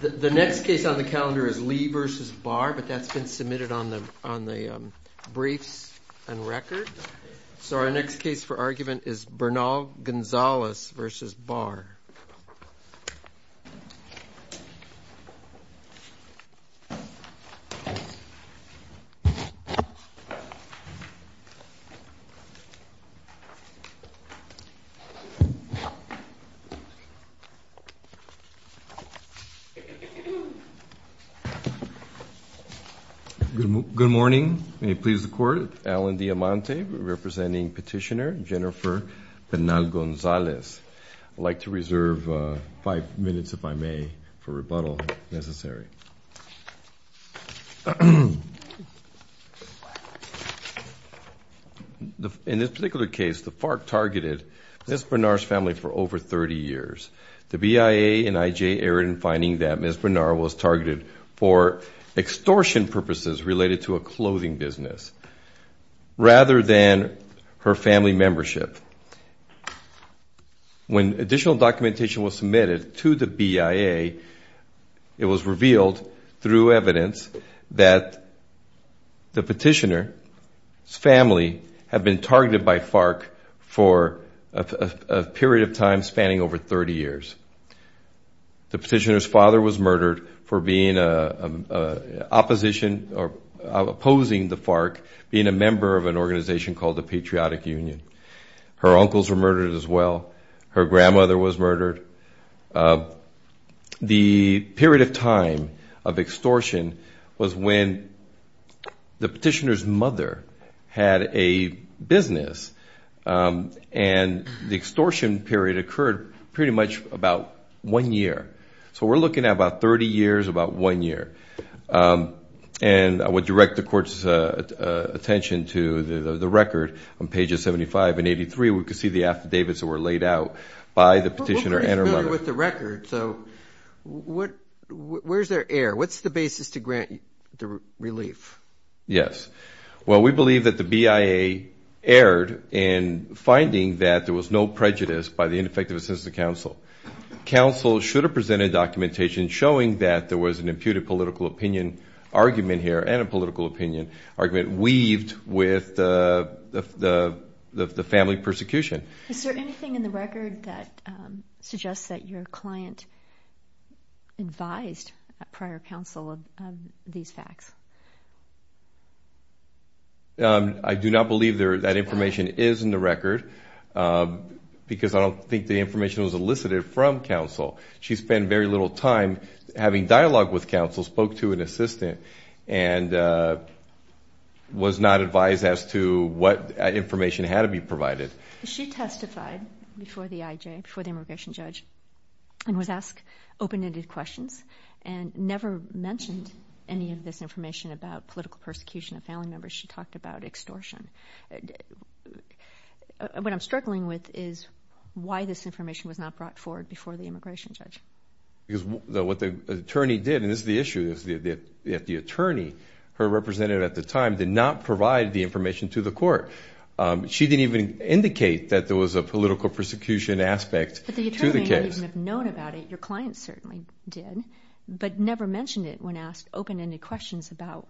The next case on the calendar is Lee versus Barr, but that's been submitted on the briefs and record. So our next case for argument is Bernal-Gonzalez versus Barr. Alan Diamante Good morning. May it please the Court, Alan Diamante representing petitioner Jennifer Bernal-Gonzalez. I'd like to reserve five minutes, if I may, for rebuttal, if necessary. In this particular case, the FARC targeted Ms. Bernal's family for over 30 years. The BIA and IJ erred in finding that Ms. Bernal was targeted for extortion purposes related to a clothing business rather than her family membership. When additional documentation was submitted to the BIA, it was revealed through evidence that the petitioner's family had been targeted by FARC for a period of time spanning over 30 years. The petitioner's father was murdered for opposing the FARC being a member of an organization called the Patriotic Union. Her uncles were murdered as well. Her grandmother was murdered. The period of time of extortion was when the petitioner's mother had a business, and the extortion period occurred pretty much about one year. So we're looking at about 30 years, about one year. And I would direct the Court's attention to the record on pages 75 and 83. We can see the affidavits that were laid out by the petitioner and her mother. We're pretty familiar with the record, so where's their error? What's the basis to grant the relief? Yes. Well, we believe that the BIA erred in finding that there was no prejudice by the ineffective assistance of counsel. Counsel should have presented documentation showing that there was an imputed political opinion argument here and a political opinion argument weaved with the family persecution. Is there anything in the record that suggests that your client advised prior counsel of these facts? I do not believe that information is in the record because I don't think the information was elicited from counsel. She spent very little time having dialogue with counsel, spoke to an assistant, and was not advised as to what information had to be provided. She testified before the IJ, before the immigration judge, and was asked open-ended questions and never mentioned any of this information about political persecution of family members. She talked about extortion. What I'm struggling with is why this information was not brought forward before the immigration judge. Because what the attorney did, and this is the issue, is that the attorney, her representative at the time, did not provide the information to the Court. She didn't even indicate that there was a political persecution aspect to the case. Your client certainly did, but never mentioned it when asked open-ended questions about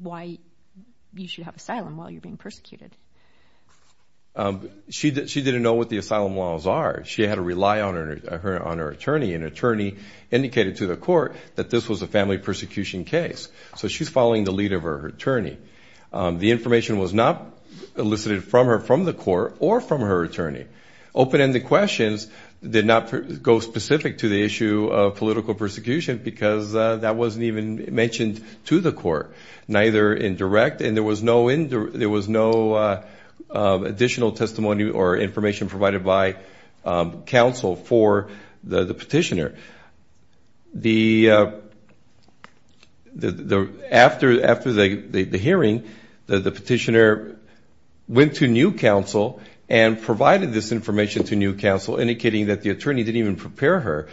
why you should have asylum while you're being persecuted. She didn't know what the asylum laws are. She had to rely on her attorney. An attorney indicated to the Court that this was a family persecution case. So she's following the lead of her attorney. The information was not elicited from her from the Court or from her attorney. Open-ended questions did not go specific to the issue of political persecution because that wasn't even mentioned to the Court, neither in direct. And there was no additional testimony or information provided by counsel for the petitioner. After the hearing, the petitioner went to new counsel and provided this information to new counsel, indicating that the attorney didn't even prepare her.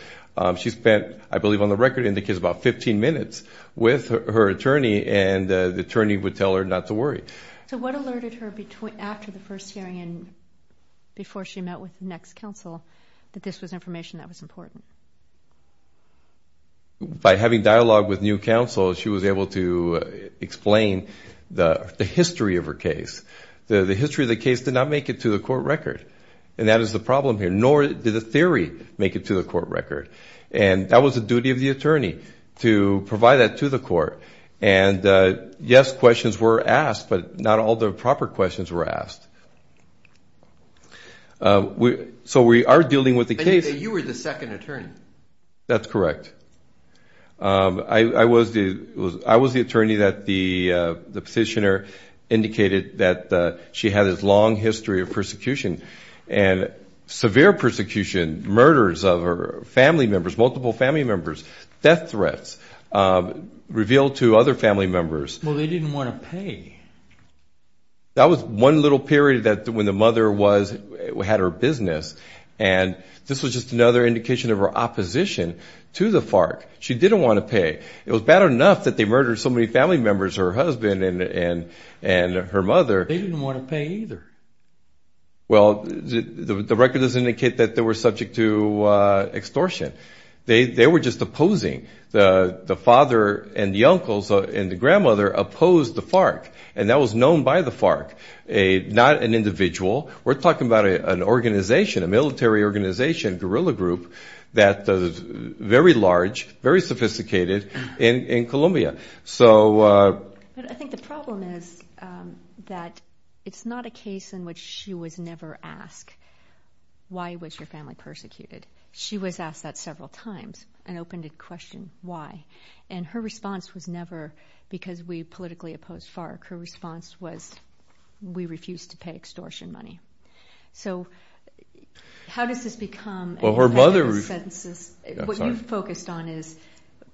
She spent, I believe on the record in the case, about 15 minutes with her attorney, and the attorney would tell her not to worry. So what alerted her after the first hearing and before she met with the next counsel that this was information that was important? By having dialogue with new counsel, she was able to explain the history of her case. The history of the case did not make it to the Court record, and that is the problem here. Nor did the theory make it to the Court record. And that was the duty of the attorney, to provide that to the Court. And yes, questions were asked, but not all the proper questions were asked. So we are dealing with the case... And you were the second attorney. That's correct. I was the attorney that the petitioner indicated that she had this long history of persecution. And severe persecution, murders of her family members, multiple family members, death threats revealed to other family members. Well, they didn't want to pay. That was one little period when the mother had her business, and this was just another indication of her opposition to the FARC. She didn't want to pay. It was bad enough that they murdered so many family members, her husband and her mother. They didn't want to pay either. Well, the record does indicate that they were subject to extortion. They were just opposing. The father and the uncles and the grandmother opposed the FARC, and that was known by the FARC. Not an individual. We're talking about an organization, a military organization, guerrilla group, that is very large, very sophisticated in Colombia. But I think the problem is that it's not a case in which she was never asked, why was your family persecuted? She was asked that several times and opened the question, why? And her response was never because we politically opposed FARC. Her response was, we refuse to pay extortion money. So how does this become an election consensus? What you focused on is,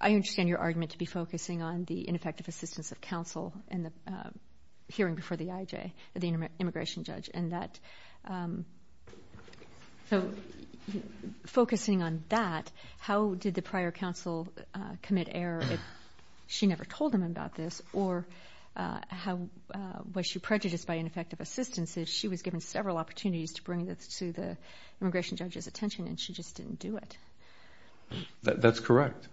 I understand your argument to be focusing on the ineffective assistance of counsel and the hearing before the IJ, the immigration judge. So focusing on that, how did the prior counsel commit error if she never told him about this? Or was she prejudiced by ineffective assistance if she was given several opportunities to bring it to the immigration judge's attention and she just didn't do it? That's correct.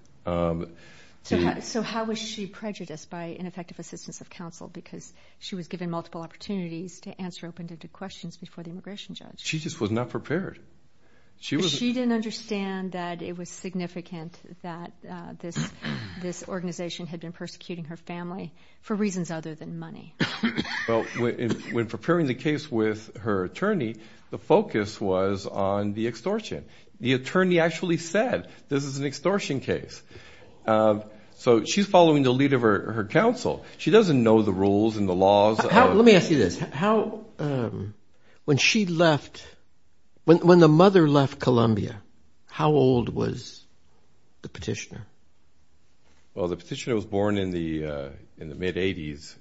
So how was she prejudiced by ineffective assistance of counsel because she was given multiple opportunities to answer open-ended questions before the immigration judge? She just was not prepared. She didn't understand that it was significant that this organization had been persecuting her family for reasons other than money. Well, when preparing the case with her attorney, the focus was on the extortion. The attorney actually said, this is an extortion case. So she's following the lead of her counsel. She doesn't know the rules and the laws. Let me ask you this. When she left, when the mother left Columbia, how old was the petitioner? Well, the petitioner was born in the mid-80s.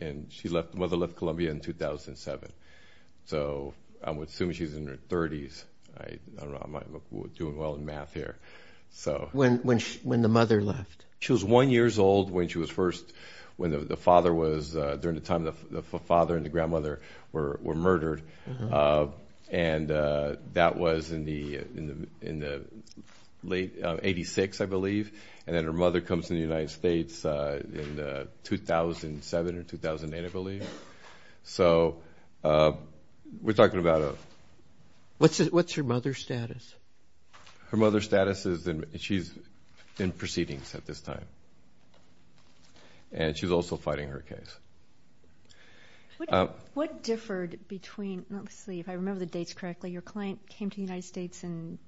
And the mother left Columbia in 2007. So I would assume she's in her 30s. I don't know. I'm not doing well in math here. When the mother left? She was one years old when the father and the grandmother were murdered. And that was in the late 86, I believe. And then her mother comes to the United States in 2007 or 2008, I believe. So we're talking about a... What's her mother's status? Her mother's status is she's in proceedings at this time. And she's also fighting her case. What differed between... Let me see if I remember the dates correctly. Your client came to the United States in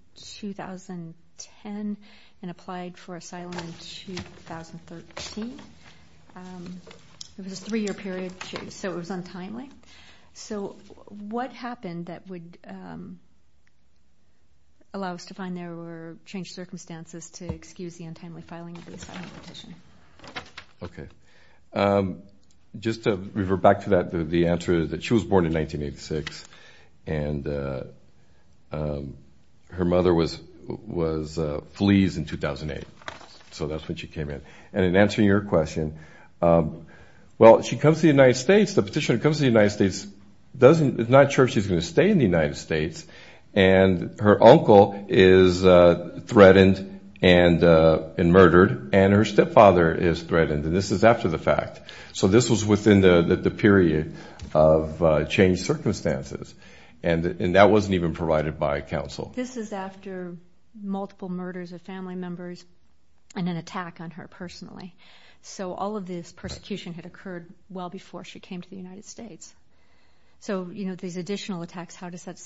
2010 and applied for asylum in 2013. It was a three-year period, so it was untimely. So what happened that would allow us to find there were changed circumstances to excuse the untimely filing of the asylum petition? Okay. Just to revert back to that, the answer is that she was born in 1986. And her mother was fleas in 2008. So that's when she came in. And in answering your question, well, she comes to the United States. The petitioner comes to the United States, is not sure if she's going to stay in the United States. And her uncle is threatened and murdered, and her stepfather is threatened. And this is after the fact. So this was within the period of changed circumstances. And that wasn't even provided by counsel. This is after multiple murders of family members and an attack on her personally. So all of this persecution had occurred well before she came to the United States. So these additional attacks, how does that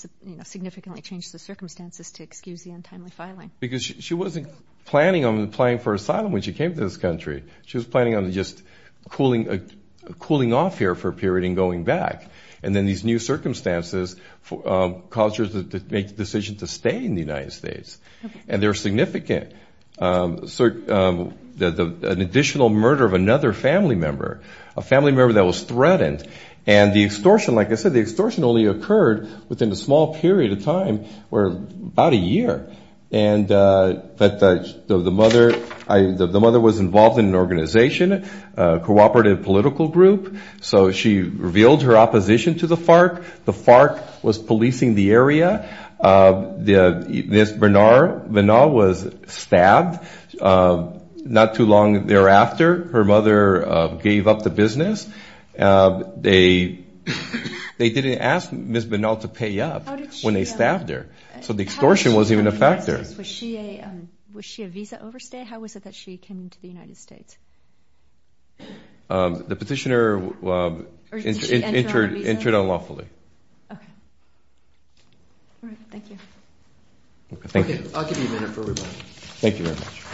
significantly change the circumstances to excuse the untimely filing? Because she wasn't planning on applying for asylum when she came to this country. She was planning on just cooling off here for a period and going back. And then these new circumstances caused her to make the decision to stay in the United States. And there were significant additional murder of another family member, a family member that was threatened. And the extortion, like I said, the extortion only occurred within a small period of time, about a year. But the mother was involved in an organization, a cooperative political group. So she revealed her opposition to the FARC. The FARC was policing the area. Ms. Bernal was stabbed not too long thereafter. Her mother gave up the business. They didn't ask Ms. Bernal to pay up when they stabbed her. So the extortion wasn't even a factor. Was she a visa overstay? How was it that she came to the United States? The petitioner entered unlawfully. All right. Thank you. I'll give you a minute for rebuttal. Thank you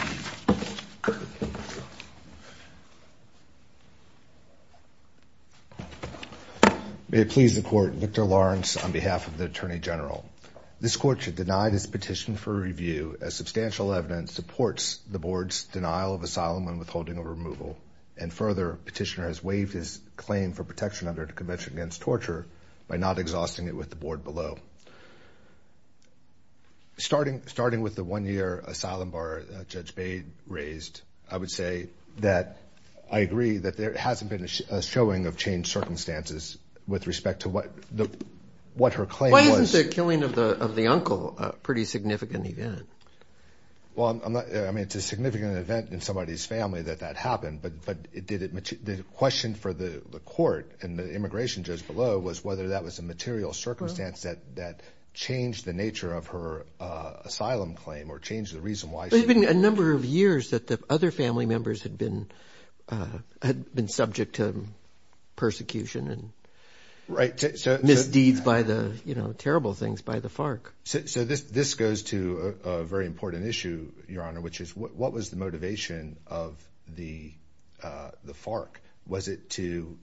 very much. I'm going to start by not exhausting it with the board below. Starting with the one year asylum bar Judge Bade raised, I would say that I agree that there hasn't been a showing of changed circumstances with respect to what her claim was. Why isn't the killing of the uncle a pretty significant event? Well, I mean, it's a significant event in somebody's family that that happened. But the question for the court and the immigration judge below was whether that was a material circumstance that changed the nature of her asylum claim or changed the reason why. It had been a number of years that the other family members had been subject to persecution and misdeeds by the, you know, terrible things by the FARC. So this goes to a very important issue, Your Honor, which is what was the motivation of the FARC? Was it to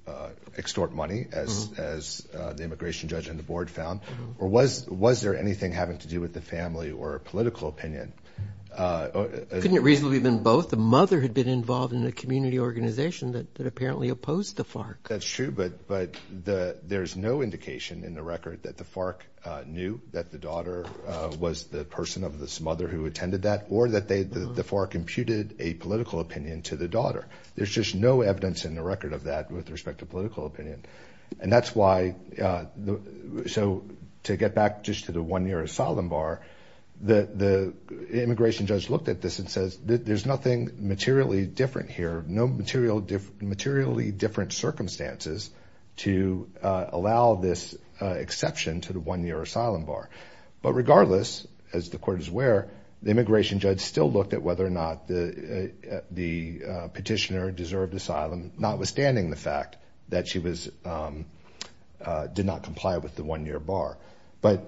extort money, as the immigration judge and the board found? Or was there anything having to do with the family or a political opinion? Couldn't it reasonably have been both? The mother had been involved in a community organization that apparently opposed the FARC. That's true, but there's no indication in the record that the FARC knew that the daughter was the person of this mother who attended that or that the FARC imputed a political opinion to the daughter. There's just no evidence in the record of that with respect to political opinion. And that's why. So to get back just to the one year asylum bar, the immigration judge looked at this and says there's nothing materially different here. No materially different circumstances to allow this exception to the one year asylum bar. But regardless, as the court is aware, the immigration judge still looked at whether or not the petitioner deserved asylum, notwithstanding the fact that she did not comply with the one year bar. But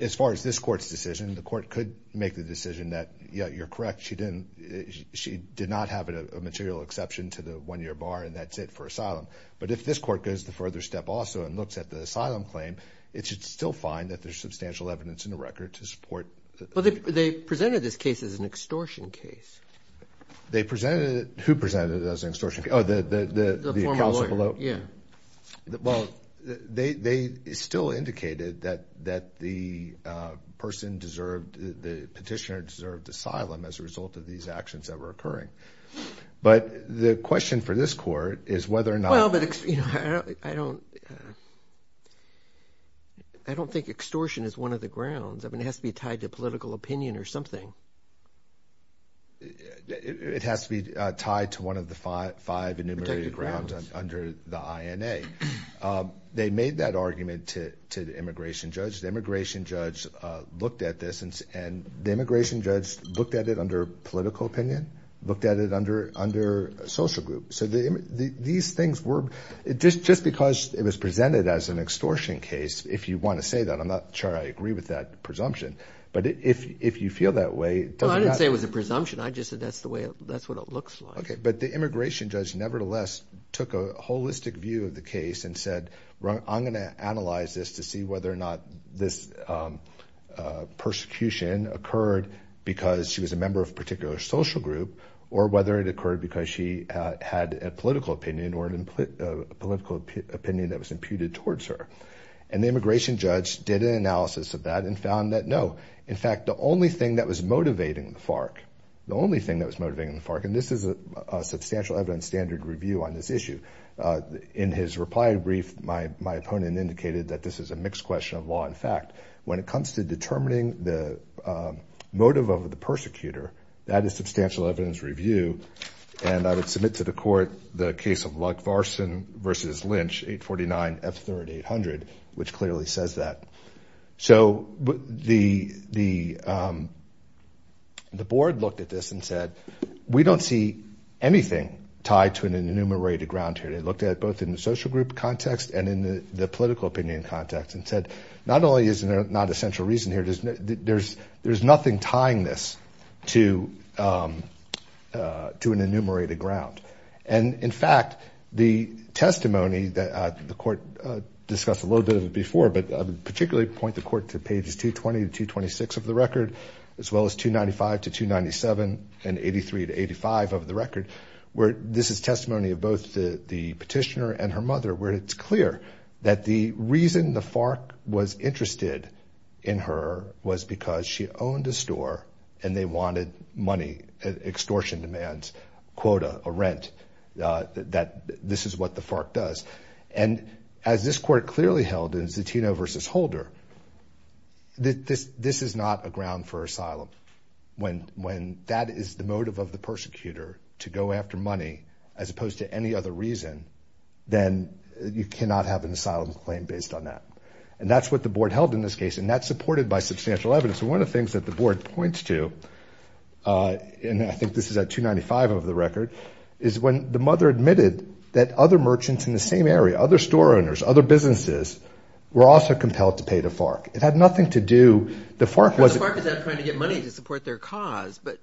as far as this court's decision, the court could make the decision that, yeah, you're correct. She did not have a material exception to the one year bar and that's it for asylum. But if this court goes the further step also and looks at the asylum claim, it should still find that there's substantial evidence in the record to support. But they presented this case as an extortion case. They presented it. Who presented it as an extortion case? Oh, the counsel below. Yeah. Well, they still indicated that that the person deserved the petitioner deserved asylum as a result of these actions that were occurring. But the question for this court is whether or not. I don't think extortion is one of the grounds. I mean, it has to be tied to political opinion or something. It has to be tied to one of the five enumerated grounds under the INA. They made that argument to the immigration judge. The immigration judge looked at this and the immigration judge looked at it under political opinion, looked at it under social group. So these things were just because it was presented as an extortion case. If you want to say that, I'm not sure I agree with that presumption, but if you feel that way. I didn't say it was a presumption. I just said that's the way that's what it looks like. But the immigration judge nevertheless took a holistic view of the case and said, I'm going to analyze this to see whether or not this persecution occurred because she was a member of a particular social group or whether it occurred because she had a political opinion or a political opinion that was imputed towards her. And the immigration judge did an analysis of that and found that, no, in fact, the only thing that was motivating the FARC, the only thing that was motivating the FARC, and this is a substantial evidence standard review on this issue. In his reply brief, my opponent indicated that this is a mixed question of law and fact. When it comes to determining the motive of the persecutor, that is substantial evidence review. And I would submit to the court the case of Lugvarsen v. Lynch, 849F3800, which clearly says that. So the board looked at this and said, we don't see anything tied to an enumerated ground here. They looked at it both in the social group context and in the political opinion context and said, not only is there not a central reason here, there's nothing tying this to the fact that she was a member of a particular social group. And in fact, the testimony that the court discussed a little bit of it before, but particularly point the court to pages 220 to 226 of the record, as well as 295 to 297 and 83 to 85 of the record, where this is testimony of both the petitioner and her mother, where it's clear that the reason the FARC was interested in her was because she owned a store and they wanted money, extortion demands. And so the court looked at this and said, okay, this is a reasonable reason for the FARC to want to use this quota or rent, that this is what the FARC does. And as this court clearly held in Zatino v. Holder, this is not a ground for asylum. When that is the motive of the persecutor, to go after money, as opposed to any other reason, then you cannot have an asylum claim based on that. And that's what the board held in this case, and that's supported by substantial evidence. And the second point, and this is the second item of the record, is when the mother admitted that other merchants in the same area, other store owners, other businesses, were also compelled to pay the FARC. It had nothing to do, the FARC was... The FARC was not trying to get money to support their cause, but...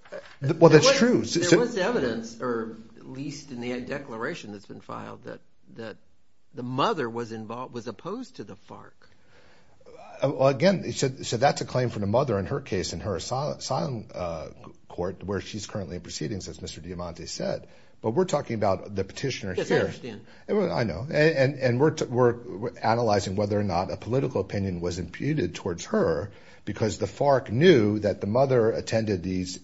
Well, that's true. There was evidence, at least in the declaration that's been filed, that the mother was opposed to the FARC. Again, so that's a claim from the mother in her case, in her asylum court, where she's currently in proceedings, as Mr. Diamante said. But we're talking about the petitioner here. Yes, I understand. I know. And we're analyzing whether or not a political opinion was imputed towards her, because the FARC knew that the mother attended these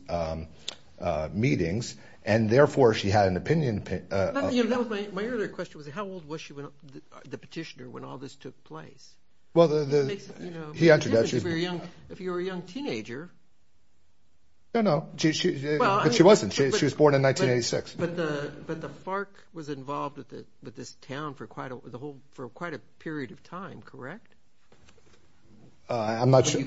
meetings, and therefore she had an opinion. My earlier question was, how old was she, the petitioner, when all this took place? He answered that. If you're a young teenager... No, no, but she wasn't. She was born in 1986. But the FARC was involved with this town for quite a period of time, correct? I'm not sure.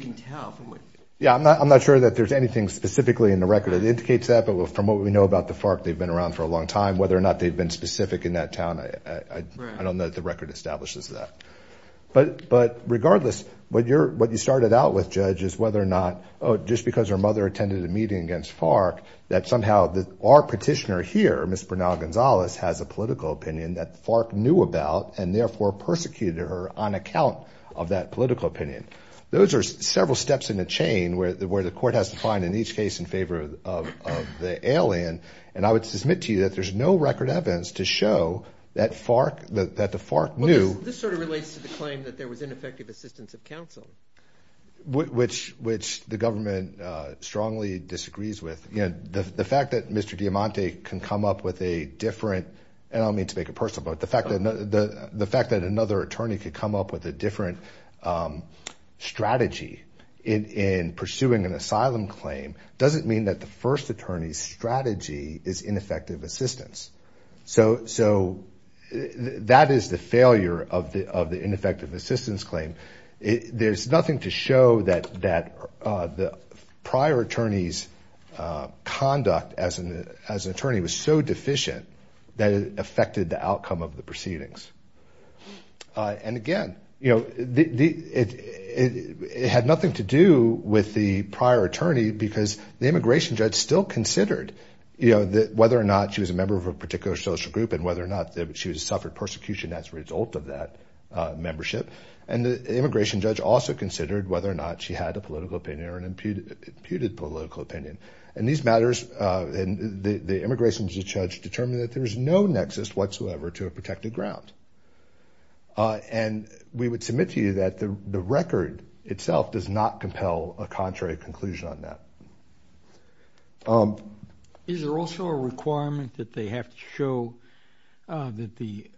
Yeah, I'm not sure that there's anything specifically in the record that indicates that. But from what we know about the FARC, they've been around for a long time. Whether or not they've been specific in that town, I don't know that the record establishes that. But regardless, what you started out with, Judge, is whether or not, just because her mother attended a meeting against FARC, that somehow our petitioner here, Ms. Bernal-Gonzalez, has a political opinion that FARC knew about, and therefore persecuted her on account of that political opinion. Those are several steps in the chain where the court has to find, in each case, in favor of the alien. And I would submit to you that there's no record evidence to show that the FARC knew... This sort of relates to the claim that there was ineffective assistance of counsel. Which the government strongly disagrees with. The fact that Mr. Diamante can come up with a different... Strategy in pursuing an asylum claim doesn't mean that the first attorney's strategy is ineffective assistance. So that is the failure of the ineffective assistance claim. There's nothing to show that the prior attorney's conduct as an attorney was so deficient that it affected the outcome of the proceedings. And again, it had nothing to do with the prior attorney, because the immigration judge still considered whether or not she was a member of a particular social group, and whether or not she suffered persecution as a result of that membership. And the immigration judge also considered whether or not she had a political opinion or an imputed political opinion. And these matters, the immigration judge determined that there was no nexus whatsoever to a protected ground. And we would submit to you that the record itself does not compel a contrary conclusion on that. Is there also a requirement that they have to show that the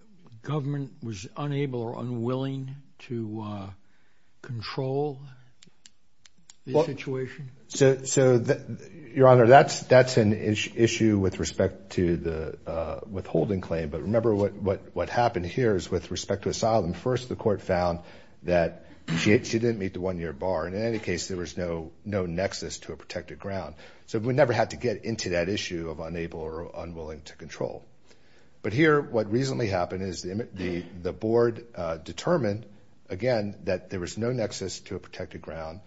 government was unable or unwilling to control the situation? So, Your Honor, that's an issue with respect to the withholding claim. But remember what happened here is with respect to asylum. First, the court found that she didn't meet the one-year bar. And in any case, there was no nexus to a protected ground. So we never had to get into that issue of unable or unwilling to control. But here, what recently happened is the board determined, again, that there was no nexus to a protected ground.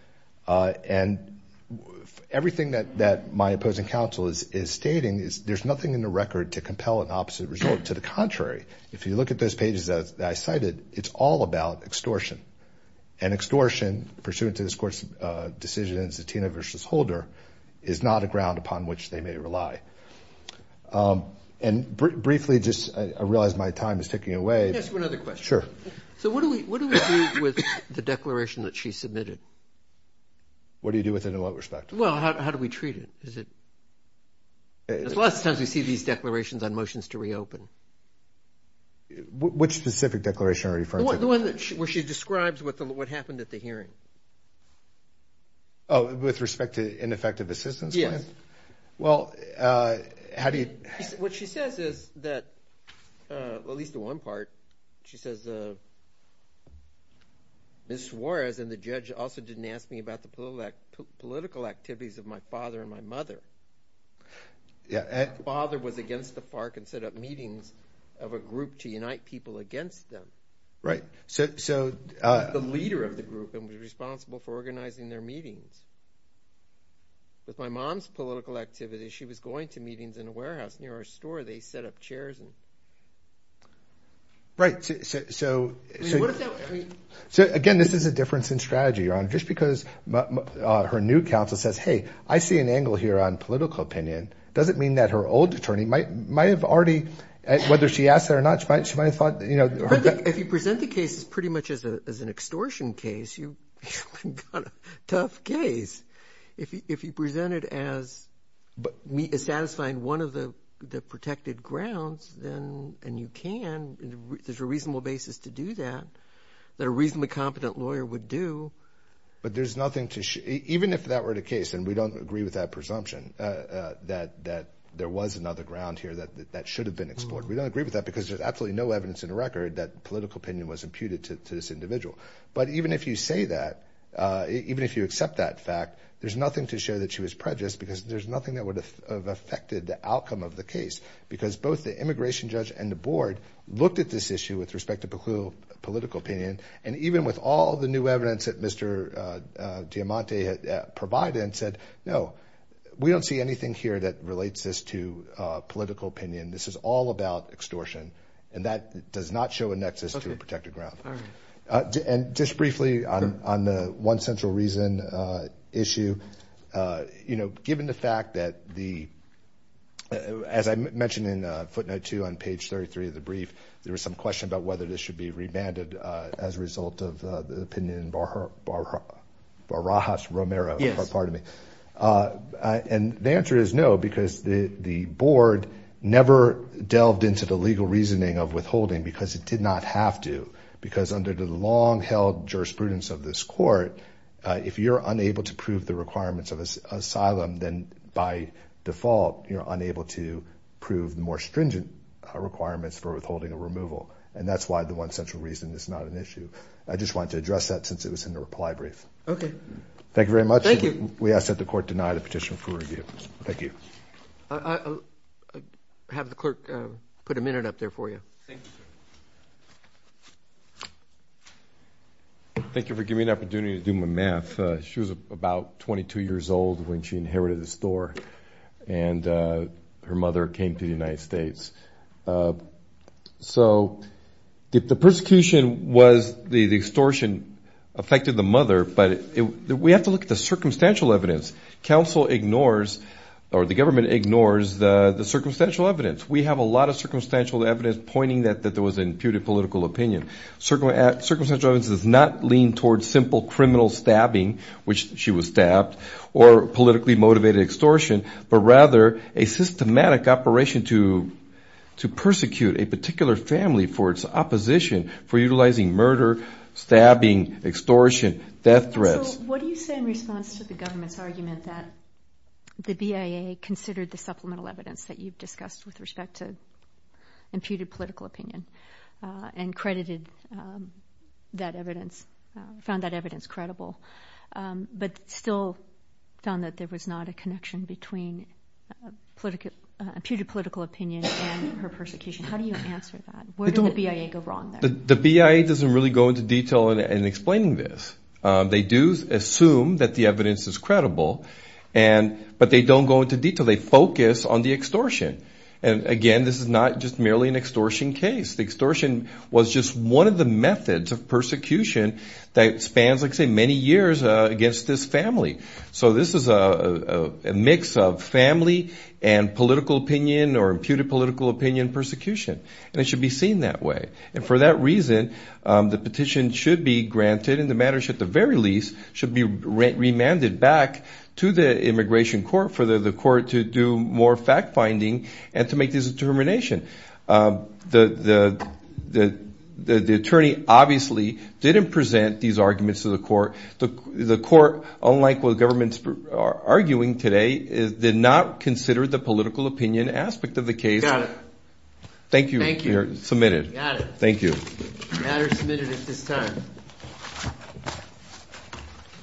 And everything that my opposing counsel is stating is there's nothing in the record to compel an opposite result. To the contrary, if you look at those pages that I cited, it's all about extortion. And extortion, pursuant to this court's decision in Zatina v. Holder, is not a ground upon which they may rely. Briefly, just I realize my time is ticking away. Let me ask you another question. Sure. So what do we do with the declaration that she submitted? What do you do with it in what respect? Well, how do we treat it? Because lots of times we see these declarations on motions to reopen. Which specific declaration are you referring to? The one where she describes what happened at the hearing. Oh, with respect to ineffective assistance? Yes. Well, how do you? What she says is that, at least in one part, she says Ms. Suarez and the judge also didn't ask me about the political activities of my father and my mother. Yeah. My father was against the park and set up meetings of a group to unite people against them. Right. The leader of the group and was responsible for organizing their meetings. With my mom's political activities, she was going to meetings in a warehouse near our store. They set up chairs. Right. So what does that mean? So, again, this is a difference in strategy, Your Honor, just because her new counsel says, hey, I see an angle here on political opinion, doesn't mean that her old attorney might have already, whether she asked that or not, she might have thought, you know. If you present the case as pretty much as an extortion case, you've got a tough case. If you present it as satisfying one of the protected grounds, then you can. There's a reasonable basis to do that, that a reasonably competent lawyer would do. But there's nothing to – even if that were the case, and we don't agree with that presumption, that there was another ground here that should have been explored. We don't agree with that because there's absolutely no evidence in the record that political opinion was imputed to this individual. But even if you say that, even if you accept that fact, there's nothing to show that she was prejudiced because there's nothing that would have affected the outcome of the case because both the immigration judge and the board looked at this issue with respect to political opinion. And even with all the new evidence that Mr. Diamante had provided and said, no, we don't see anything here that relates this to political opinion. This is all about extortion, and that does not show a nexus to a protected ground. And just briefly on the one central reason issue, given the fact that the – as I mentioned in footnote two on page 33 of the brief, there was some question about whether this should be remanded as a result of the opinion in Barajas-Romero. And the answer is no, because the board never delved into the legal reasoning of withholding because it did not have to, because under the long-held jurisprudence of this court, if you're unable to prove the requirements of asylum, then by default you're unable to prove the more stringent requirements for withholding a removal. And that's why the one central reason is not an issue. I just wanted to address that since it was in the reply brief. Okay. Thank you very much. Thank you. We ask that the court deny the petition for review. Thank you. I'll have the clerk put a minute up there for you. Thank you, sir. Thank you for giving me an opportunity to do my math. She was about 22 years old when she inherited this store, and her mother came to the United States. So the persecution was the extortion affected the mother, but we have to look at the circumstantial evidence. Council ignores or the government ignores the circumstantial evidence. We have a lot of circumstantial evidence pointing that there was an imputed political opinion. Circumstantial evidence does not lean towards simple criminal stabbing, which she was stabbed, or politically motivated extortion, but rather a systematic operation to persecute a particular family for its opposition, for utilizing murder, stabbing, extortion, death threats. So what do you say in response to the government's argument that the BIA considered the supplemental evidence that you've discussed with respect to imputed political opinion and credited that evidence, found that evidence credible, but still found that there was not a connection between imputed political opinion and her persecution? How do you answer that? Where did the BIA go wrong there? The BIA doesn't really go into detail in explaining this. They do assume that the evidence is credible, but they don't go into detail. They focus on the extortion, and again, this is not just merely an extortion case. The extortion was just one of the methods of persecution that spans, like I say, many years against this family. So this is a mix of family and political opinion or imputed political opinion persecution, and it should be seen that way. And for that reason, the petition should be granted, and the matter should at the very least should be remanded back to the immigration court for the court to do more fact-finding and to make this determination. The attorney obviously didn't present these arguments to the court. The court, unlike what governments are arguing today, did not consider the political opinion aspect of the case. Got it. Thank you.